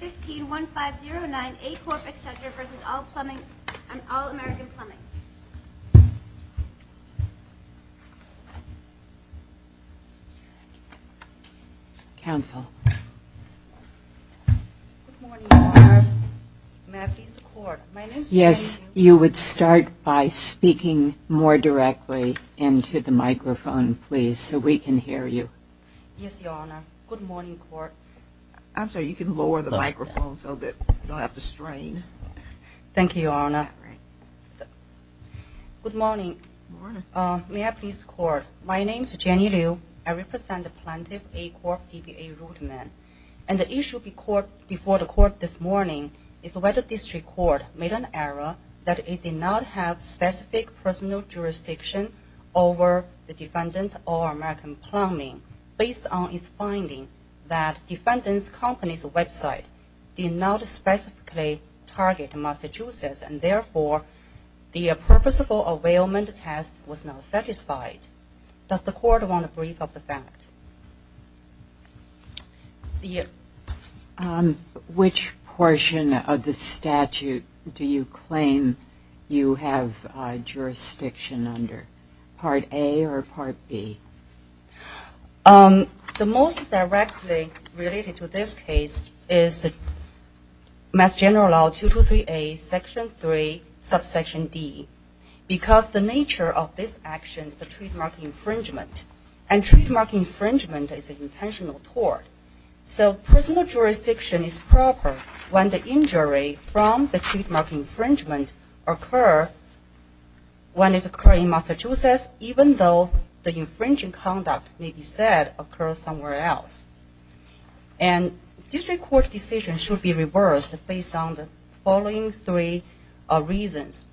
15-1509, A Corp., etc. v. All American Plumbing, Inc. Counsel. Good morning, Your Honors. May I please report? Yes, you would start by speaking more directly into the microphone, please, so we can hear Yes, Your Honor. Good morning, Court. I'm sorry, you can lower the microphone so that you don't have to strain. Thank you, Your Honor. Good morning. Good morning. May I please report? My name is Jenny Liu. I represent the Plaintiff, A Corp., DBA, Rudman. And the issue before the Court this morning is whether this record made an error that it did not have specific personal jurisdiction over the defendant, All American Plumbing, Inc. based on its finding that the defendant's company's website did not specifically target Massachusetts and, therefore, the purposeful availment test was not satisfied. Does the Court want a brief of the fact? Which portion of the statute do you claim you have jurisdiction under? Part A or Part B? The most directly related to this case is Mass General Law 223A, Section 3, Subsection D, because the nature of this action is a trademark infringement. And trademark infringement is an intentional tort. So personal jurisdiction is proper when the injury from the trademark infringement occur when it occurs in Massachusetts, even though the infringing conduct may be said occurs somewhere else. And this Court's decision should be reversed based on the following three reasons.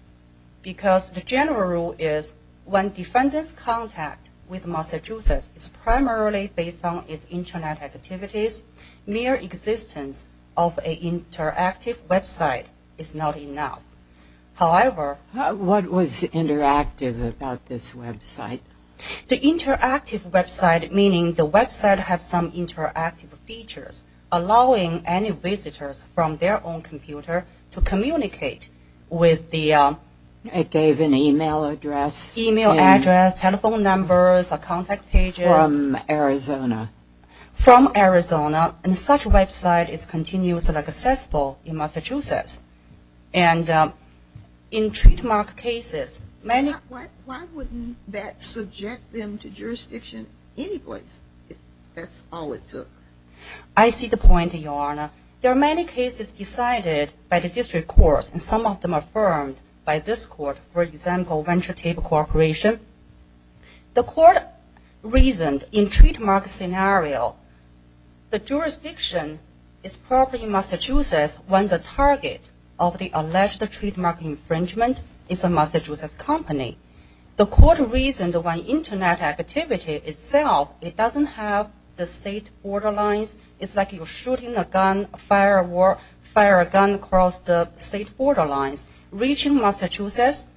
Because the general rule is when defendant's contact with Massachusetts is primarily based on its Internet activities, mere existence of an interactive website is not enough. However... What was interactive about this website? The interactive website, meaning the website has some interactive features, allowing any visitors from their own computer to communicate with the... It gave an email address... Email address, telephone numbers, contact pages... From Arizona. From Arizona. And such a website is continuously accessible in Massachusetts. And in trademark cases, many... Why wouldn't that subject them to jurisdiction any place, if that's all it took? I see the point, Your Honor. There are many cases decided by the district courts, and some of them affirmed by this court. For example, Venture Table Corporation. The court reasoned in trademark scenario, the jurisdiction is probably in Massachusetts when the target of the alleged trademark infringement is a Massachusetts company. The court reasoned when Internet activity itself, it doesn't have the state border lines. It's like you're shooting a gun, fire a gun across the state border lines, reaching Massachusetts.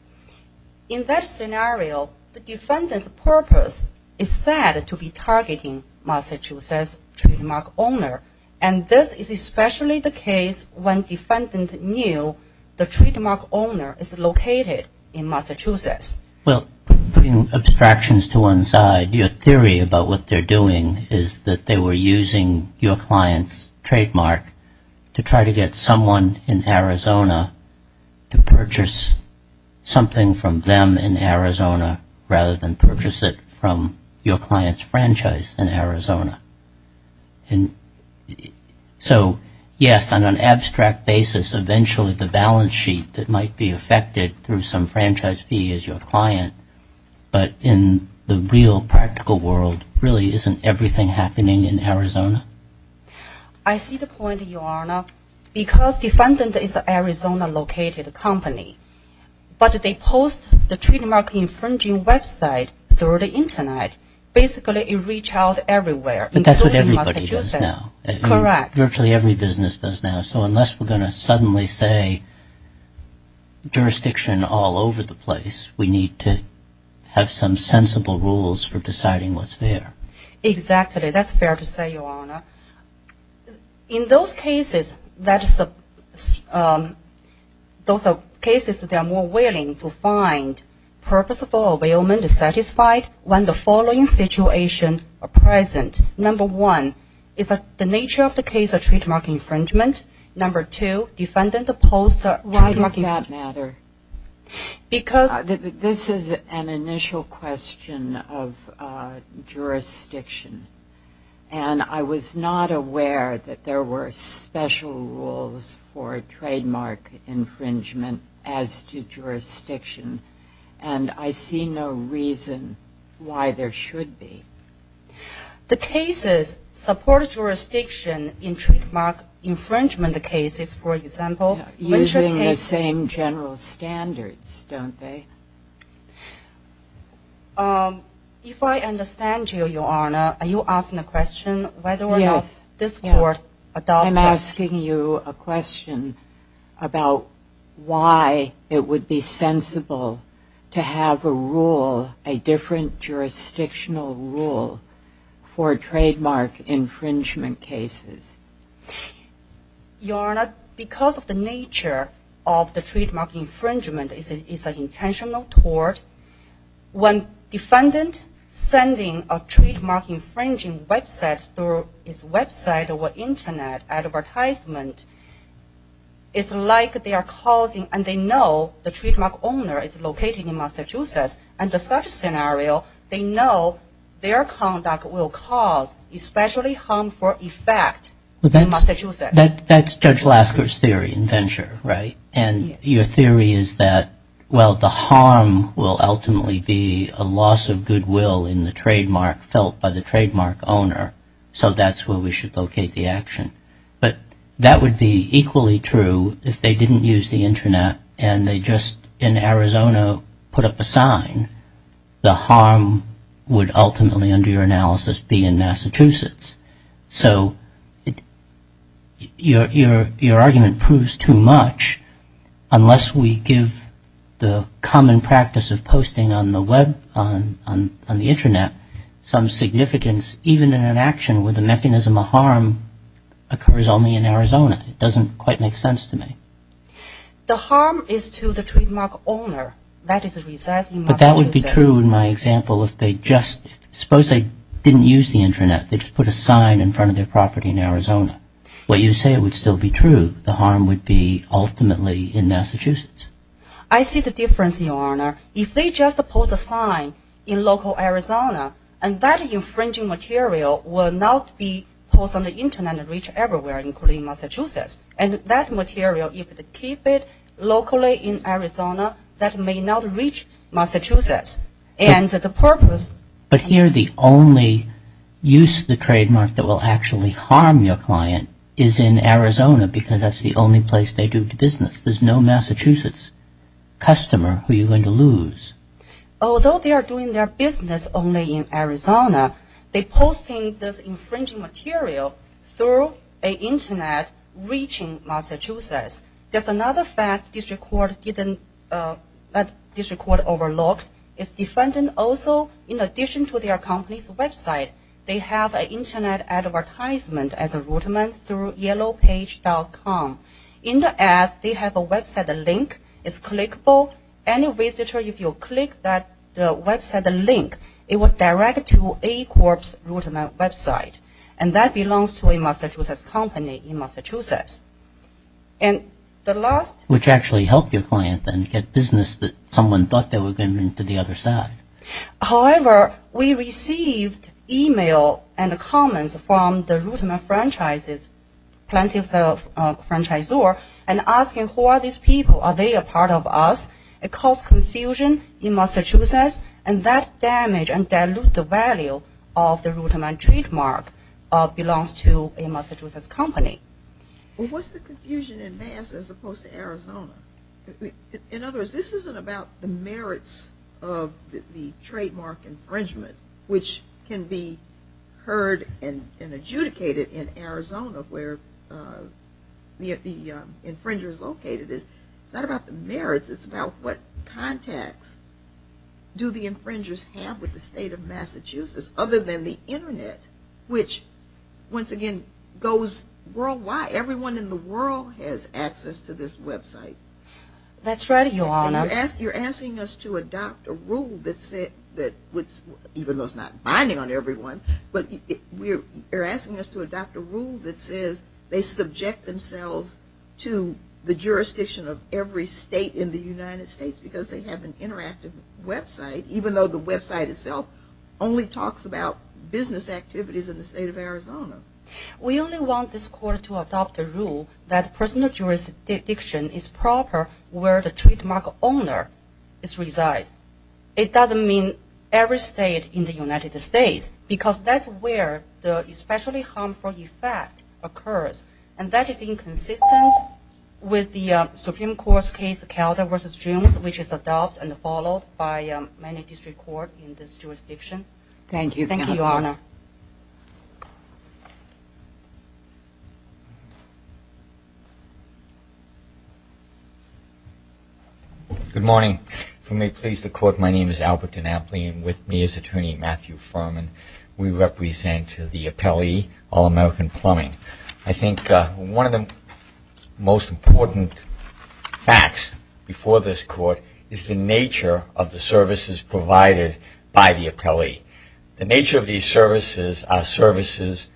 In that scenario, the defendant's purpose is said to be targeting Massachusetts trademark owner. And this is especially the case when defendant knew the trademark owner is located in Massachusetts. Well, putting abstractions to one side, your theory about what they're doing is that they were using your client's trademark to try to get someone in Arizona to purchase something from them in Arizona, rather than purchase it from your client's franchise in Arizona. And so, yes, on an abstract basis, eventually the balance sheet that might be affected through some franchise fee is your client. But in the real practical world, really isn't everything happening in Arizona? I see the point, Your Honor. Because defendant is Arizona-located company, but they post the trademark infringing website through the Internet. Basically, it reach out everywhere, including Massachusetts. But that's what everybody does now. Correct. Virtually every business does now. So unless we're going to suddenly say jurisdiction all over the place, we need to have some sensible rules for deciding what's fair. Exactly. That's fair to say, Your Honor. In those cases, those are cases that are more willing to find purposeful availment is satisfied when the following situation are present. Number one, is the nature of the case a trademark infringement? Number two, defendant opposed to trademark infringement. Why does that matter? Because... This is an initial question of jurisdiction. And I was not aware that there were special rules for trademark infringement as to jurisdiction. And I see no reason why there should be. The cases support jurisdiction in trademark infringement cases, for example... Using the same general standards, don't they? If I understand you, Your Honor, are you asking a question whether or not this court adopted... I'm asking you a question about why it would be sensible to have a rule, a different jurisdictional rule, for trademark infringement cases. Your Honor, because of the nature of the trademark infringement, it's an intentional tort. When defendant sending a trademark infringing website through his website or internet advertisement, it's like they are causing... And they know the trademark owner is located in Massachusetts. Under such a scenario, they know their conduct will cause especially harmful effect in Massachusetts. That's Judge Lasker's theory in Venture, right? And your theory is that, well, the harm will ultimately be a loss of goodwill in the trademark felt by the trademark owner. So that's where we should locate the action. But that would be equally true if they didn't use the internet and they just, in Arizona, put up a sign. The harm would ultimately, under your analysis, be in Massachusetts. So your argument proves too much, unless we give the common practice of posting on the web, on the internet, some significance even in an action where the mechanism of harm occurs only in Arizona. It doesn't quite make sense to me. The harm is to the trademark owner. But that would be true in my example if they just... Suppose they didn't use the internet. They just put a sign in front of their property in Arizona. What you say would still be true. I see the difference, Your Honor. If they just put a sign in local Arizona, and that infringing material will not be posted on the internet and reach everywhere, including Massachusetts. And that material, if they keep it locally in Arizona, that may not reach Massachusetts. And the purpose... But here the only use of the trademark that will actually harm your client is in Arizona because that's the only place they do business. There's no Massachusetts customer who you're going to lose. Although they are doing their business only in Arizona, they're posting this infringing material through the internet reaching Massachusetts. There's another fact the district court overlooked. Its defendant also, in addition to their company's website, they have an internet advertisement as a rudiment through yellowpage.com. In the ad, they have a website link. It's clickable. Any visitor, if you click that website link, it will direct you to a corp's rudiment website. And that belongs to a Massachusetts company in Massachusetts. And the last... Which actually helped your client then get business that someone thought they were going to the other side. However, we received email and comments from the rudiment franchises, plenty of franchisor, and asking who are these people? Are they a part of us? It caused confusion in Massachusetts, and that damaged and diluted the value of the rudiment trademark belongs to a Massachusetts company. Well, what's the confusion in Mass as opposed to Arizona? In other words, this isn't about the merits of the trademark infringement, which can be heard and adjudicated in Arizona where the infringer is located. It's not about the merits. It's about what contacts do the infringers have with the state of Massachusetts other than the internet, which, once again, goes worldwide. Everyone in the world has access to this website. That's right, Your Honor. You're asking us to adopt a rule that said that... Even though it's not binding on everyone, but you're asking us to adopt a rule that says they subject themselves to the jurisdiction of every state in the United States because they have an interactive website, even though the website itself only talks about business activities in the state of Arizona. We only want this Court to adopt a rule that personal jurisdiction is proper where the trademark owner resides. It doesn't mean every state in the United States, because that's where the especially harmful effect occurs, and that is inconsistent with the Supreme Court's case, Calder v. Jones, which is adopted and followed by many district courts in this jurisdiction. Thank you, Your Honor. Thank you, Counsel. Good morning. If you may please the Court, my name is Albert DeNapoli, and with me is Attorney Matthew Furman. We represent the appellee, All-American Plumbing. I think one of the most important facts before this Court is the nature of the services provided by the appellee. The nature of these services are services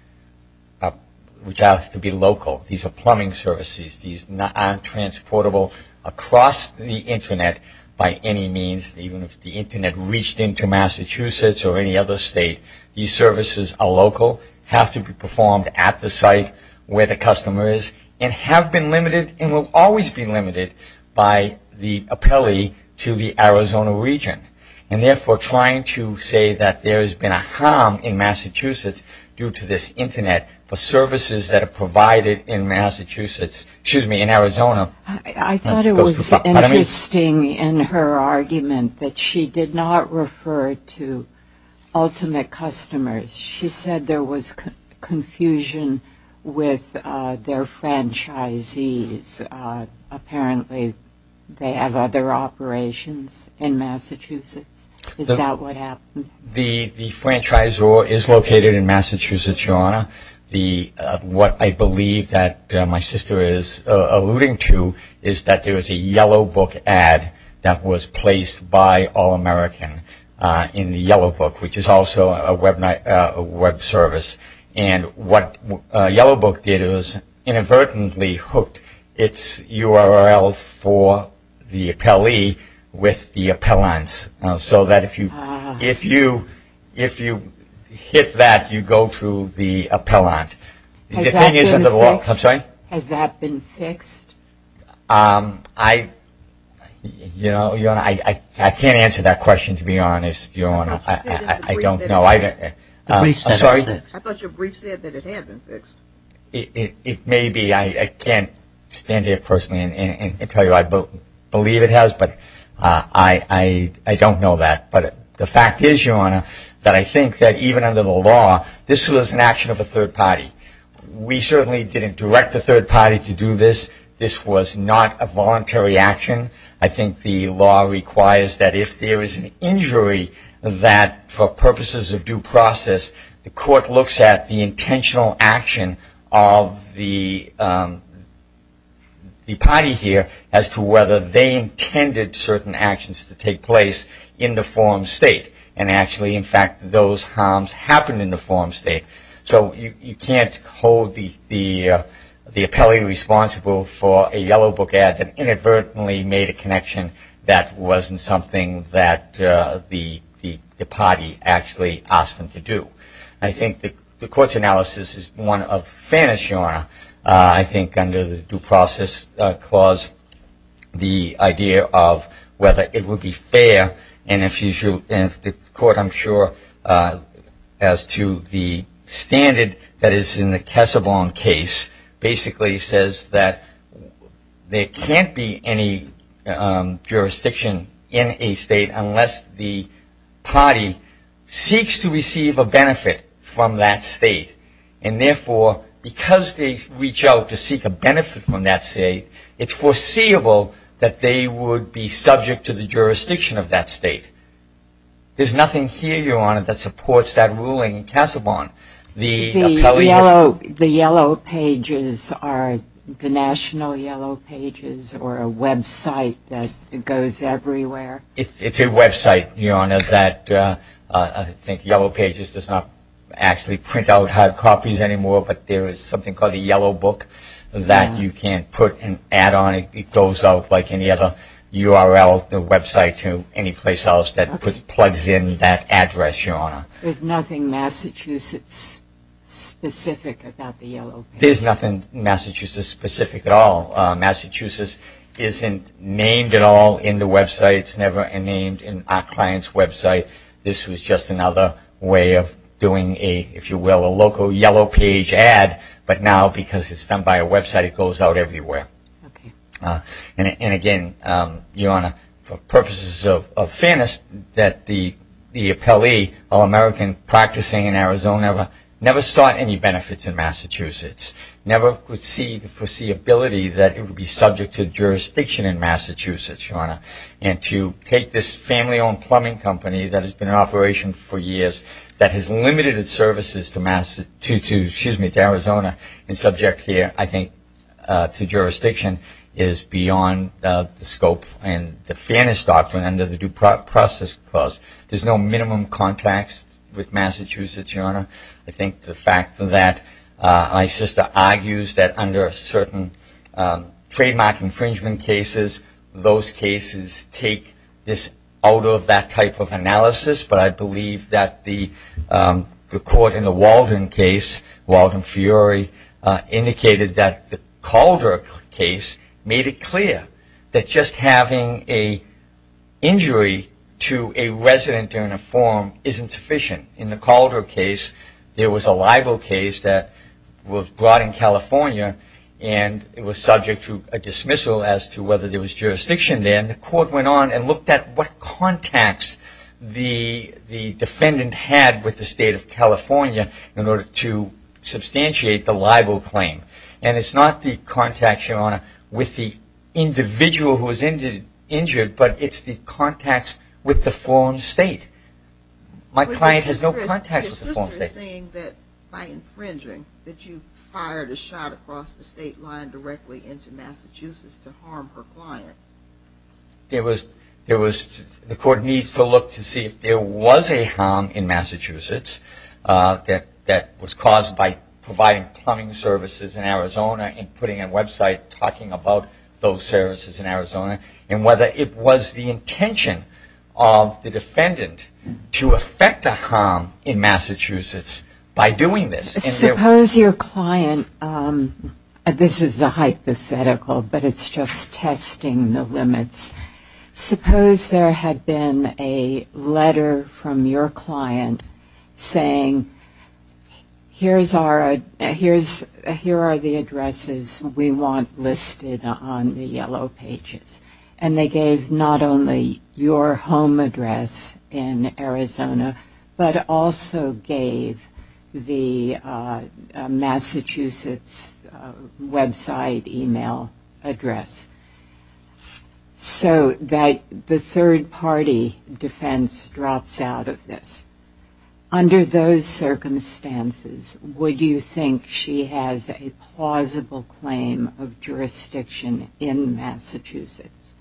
which have to be local. These are plumbing services. These are not transportable across the Internet by any means, even if the Internet reached into Massachusetts or any other state. These services are local, have to be performed at the site where the customer is, and have been limited and will always be limited by the appellee to the Arizona region, and therefore trying to say that there has been a harm in Massachusetts due to this Internet for services that are provided in Massachusetts, excuse me, in Arizona. I thought it was interesting in her argument that she did not refer to ultimate customers. She said there was confusion with their franchisees. Apparently they have other operations in Massachusetts. Is that what happened? What I believe that my sister is alluding to is that there is a Yellow Book ad that was placed by All-American in the Yellow Book, which is also a Web service. And what Yellow Book did is inadvertently hooked its URL for the appellee with the appellants, so that if you hit that, you go through the appellant. Has that been fixed? I'm sorry? Has that been fixed? I can't answer that question, to be honest, Your Honor. I don't know. I thought your brief said that it had been fixed. It may be. I can't stand here personally and tell you I believe it has, but I don't know that. But the fact is, Your Honor, that I think that even under the law, this was an action of a third party. We certainly didn't direct the third party to do this. This was not a voluntary action. I think the law requires that if there is an injury, that for purposes of due process, the court looks at the intentional action of the party here, as to whether they intended certain actions to take place in the form state. And actually, in fact, those harms happened in the form state. So you can't hold the appellee responsible for a Yellow Book ad that inadvertently made a connection that wasn't something that the party actually asked them to do. I think the court's analysis is one of fairness, Your Honor. I think under the due process clause, the idea of whether it would be fair, and if the court, I'm sure, as to the standard that is in the Kessebaum case, basically says that there can't be any jurisdiction in a state unless the party seeks to receive a benefit from that state. And therefore, because they reach out to seek a benefit from that state, it's foreseeable that they would be subject to the jurisdiction of that state. There's nothing here, Your Honor, that supports that ruling in Kessebaum. The Yellow Pages are the national Yellow Pages, or a website that goes everywhere? It's a website, Your Honor, that I think Yellow Pages does not actually print out hard copies anymore, but there is something called the Yellow Book that you can put an ad on. It goes out like any other URL, the website, to any place else that plugs in that address, Your Honor. There's nothing Massachusetts-specific about the Yellow Pages? There's nothing Massachusetts-specific at all. Massachusetts isn't named at all in the website. It's never named in our client's website. This was just another way of doing a, if you will, a local Yellow Page ad, but now because it's done by a website, it goes out everywhere. Okay. And again, Your Honor, for purposes of fairness, that the appellee, All-American Practicing in Arizona, never sought any benefits in Massachusetts, never could see the foreseeability that it would be subject to jurisdiction in Massachusetts, Your Honor. And to take this family-owned plumbing company that has been in operation for years, that has limited its services to Arizona and subject here, I think, to jurisdiction, is beyond the scope and the fairness doctrine under the Due Process Clause. There's no minimum contacts with Massachusetts, Your Honor. I think the fact that my sister argues that under certain trademark infringement cases, those cases take this out of that type of analysis, but I believe that the court in the Walden case, Walden-Fiori, indicated that the Calder case made it clear that just having an injury to a resident in a form isn't sufficient. In the Calder case, there was a libel case that was brought in California, and it was subject to a dismissal as to whether there was jurisdiction there, and the court went on and looked at what contacts the defendant had with the state of California in order to substantiate the libel claim. And it's not the contacts, Your Honor, with the individual who was injured, but it's the contacts with the foreign state. Your sister is saying that by infringing, that you fired a shot across the state line directly into Massachusetts to harm her client. The court needs to look to see if there was a harm in Massachusetts that was caused by providing plumbing services in Arizona and putting a website talking about those services in Arizona, and whether it was the intention of the defendant to affect a harm in Massachusetts by doing this. Suppose your client, this is a hypothetical, but it's just testing the limits. Suppose there had been a letter from your client saying, here are the addresses we want listed on the yellow pages. And they gave not only your home address in Arizona, but also gave the Massachusetts website email address, so that the third party defense drops out of this. Under those circumstances, would you think she has a plausible claim of jurisdiction in Massachusetts?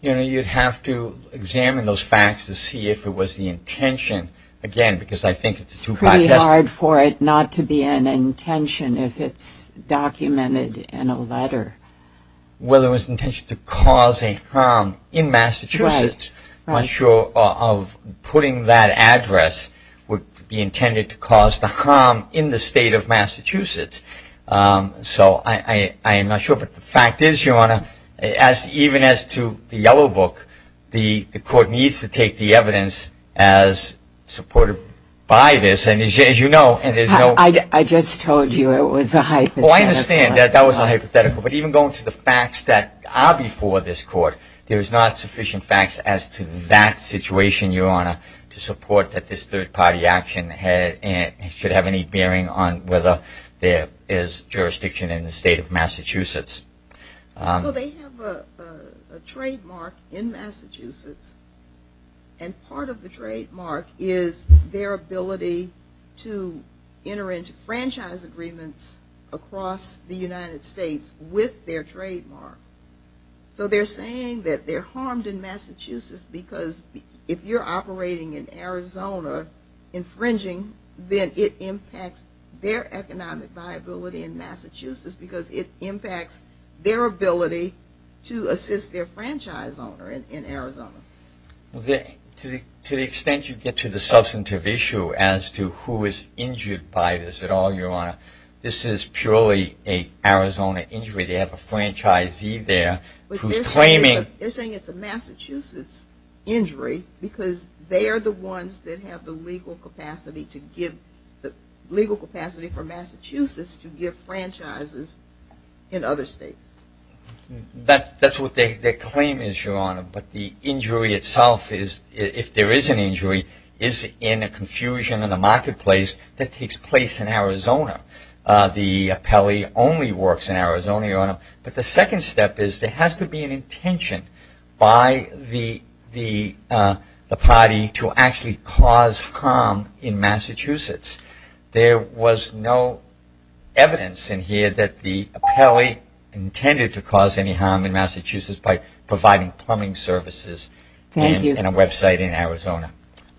You'd have to examine those facts to see if it was the intention, again, because I think it's too contested. It's pretty hard for it not to be an intention if it's documented in a letter. Well, it was the intention to cause a harm in Massachusetts. I'm not sure of putting that address would be intended to cause the harm in the state of Massachusetts. So I am not sure. But the fact is, Your Honor, even as to the yellow book, the court needs to take the evidence as supported by this. And as you know, there's no... I just told you it was a hypothetical. Well, I understand that that was a hypothetical. But even going to the facts that are before this court, there is not sufficient facts as to that situation, Your Honor, to support that this third party action should have any bearing on whether there is jurisdiction in the state of Massachusetts. So they have a trademark in Massachusetts. And part of the trademark is their ability to enter into franchise agreements across the United States with their trademark. So they're saying that they're harmed in Massachusetts because if you're operating in Arizona infringing, because it impacts their ability to assist their franchise owner in Arizona. To the extent you get to the substantive issue as to who is injured by this at all, Your Honor, this is purely an Arizona injury. They have a franchisee there who's claiming... They're saying it's a Massachusetts injury because they are the ones that have the legal capacity to give... in other states. That's what their claim is, Your Honor. But the injury itself is, if there is an injury, is in a confusion in the marketplace that takes place in Arizona. The appellee only works in Arizona, Your Honor. But the second step is there has to be an intention by the party to actually cause harm in Massachusetts. There was no evidence in here that the appellee intended to cause any harm in Massachusetts by providing plumbing services in a website in Arizona.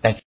Thank you.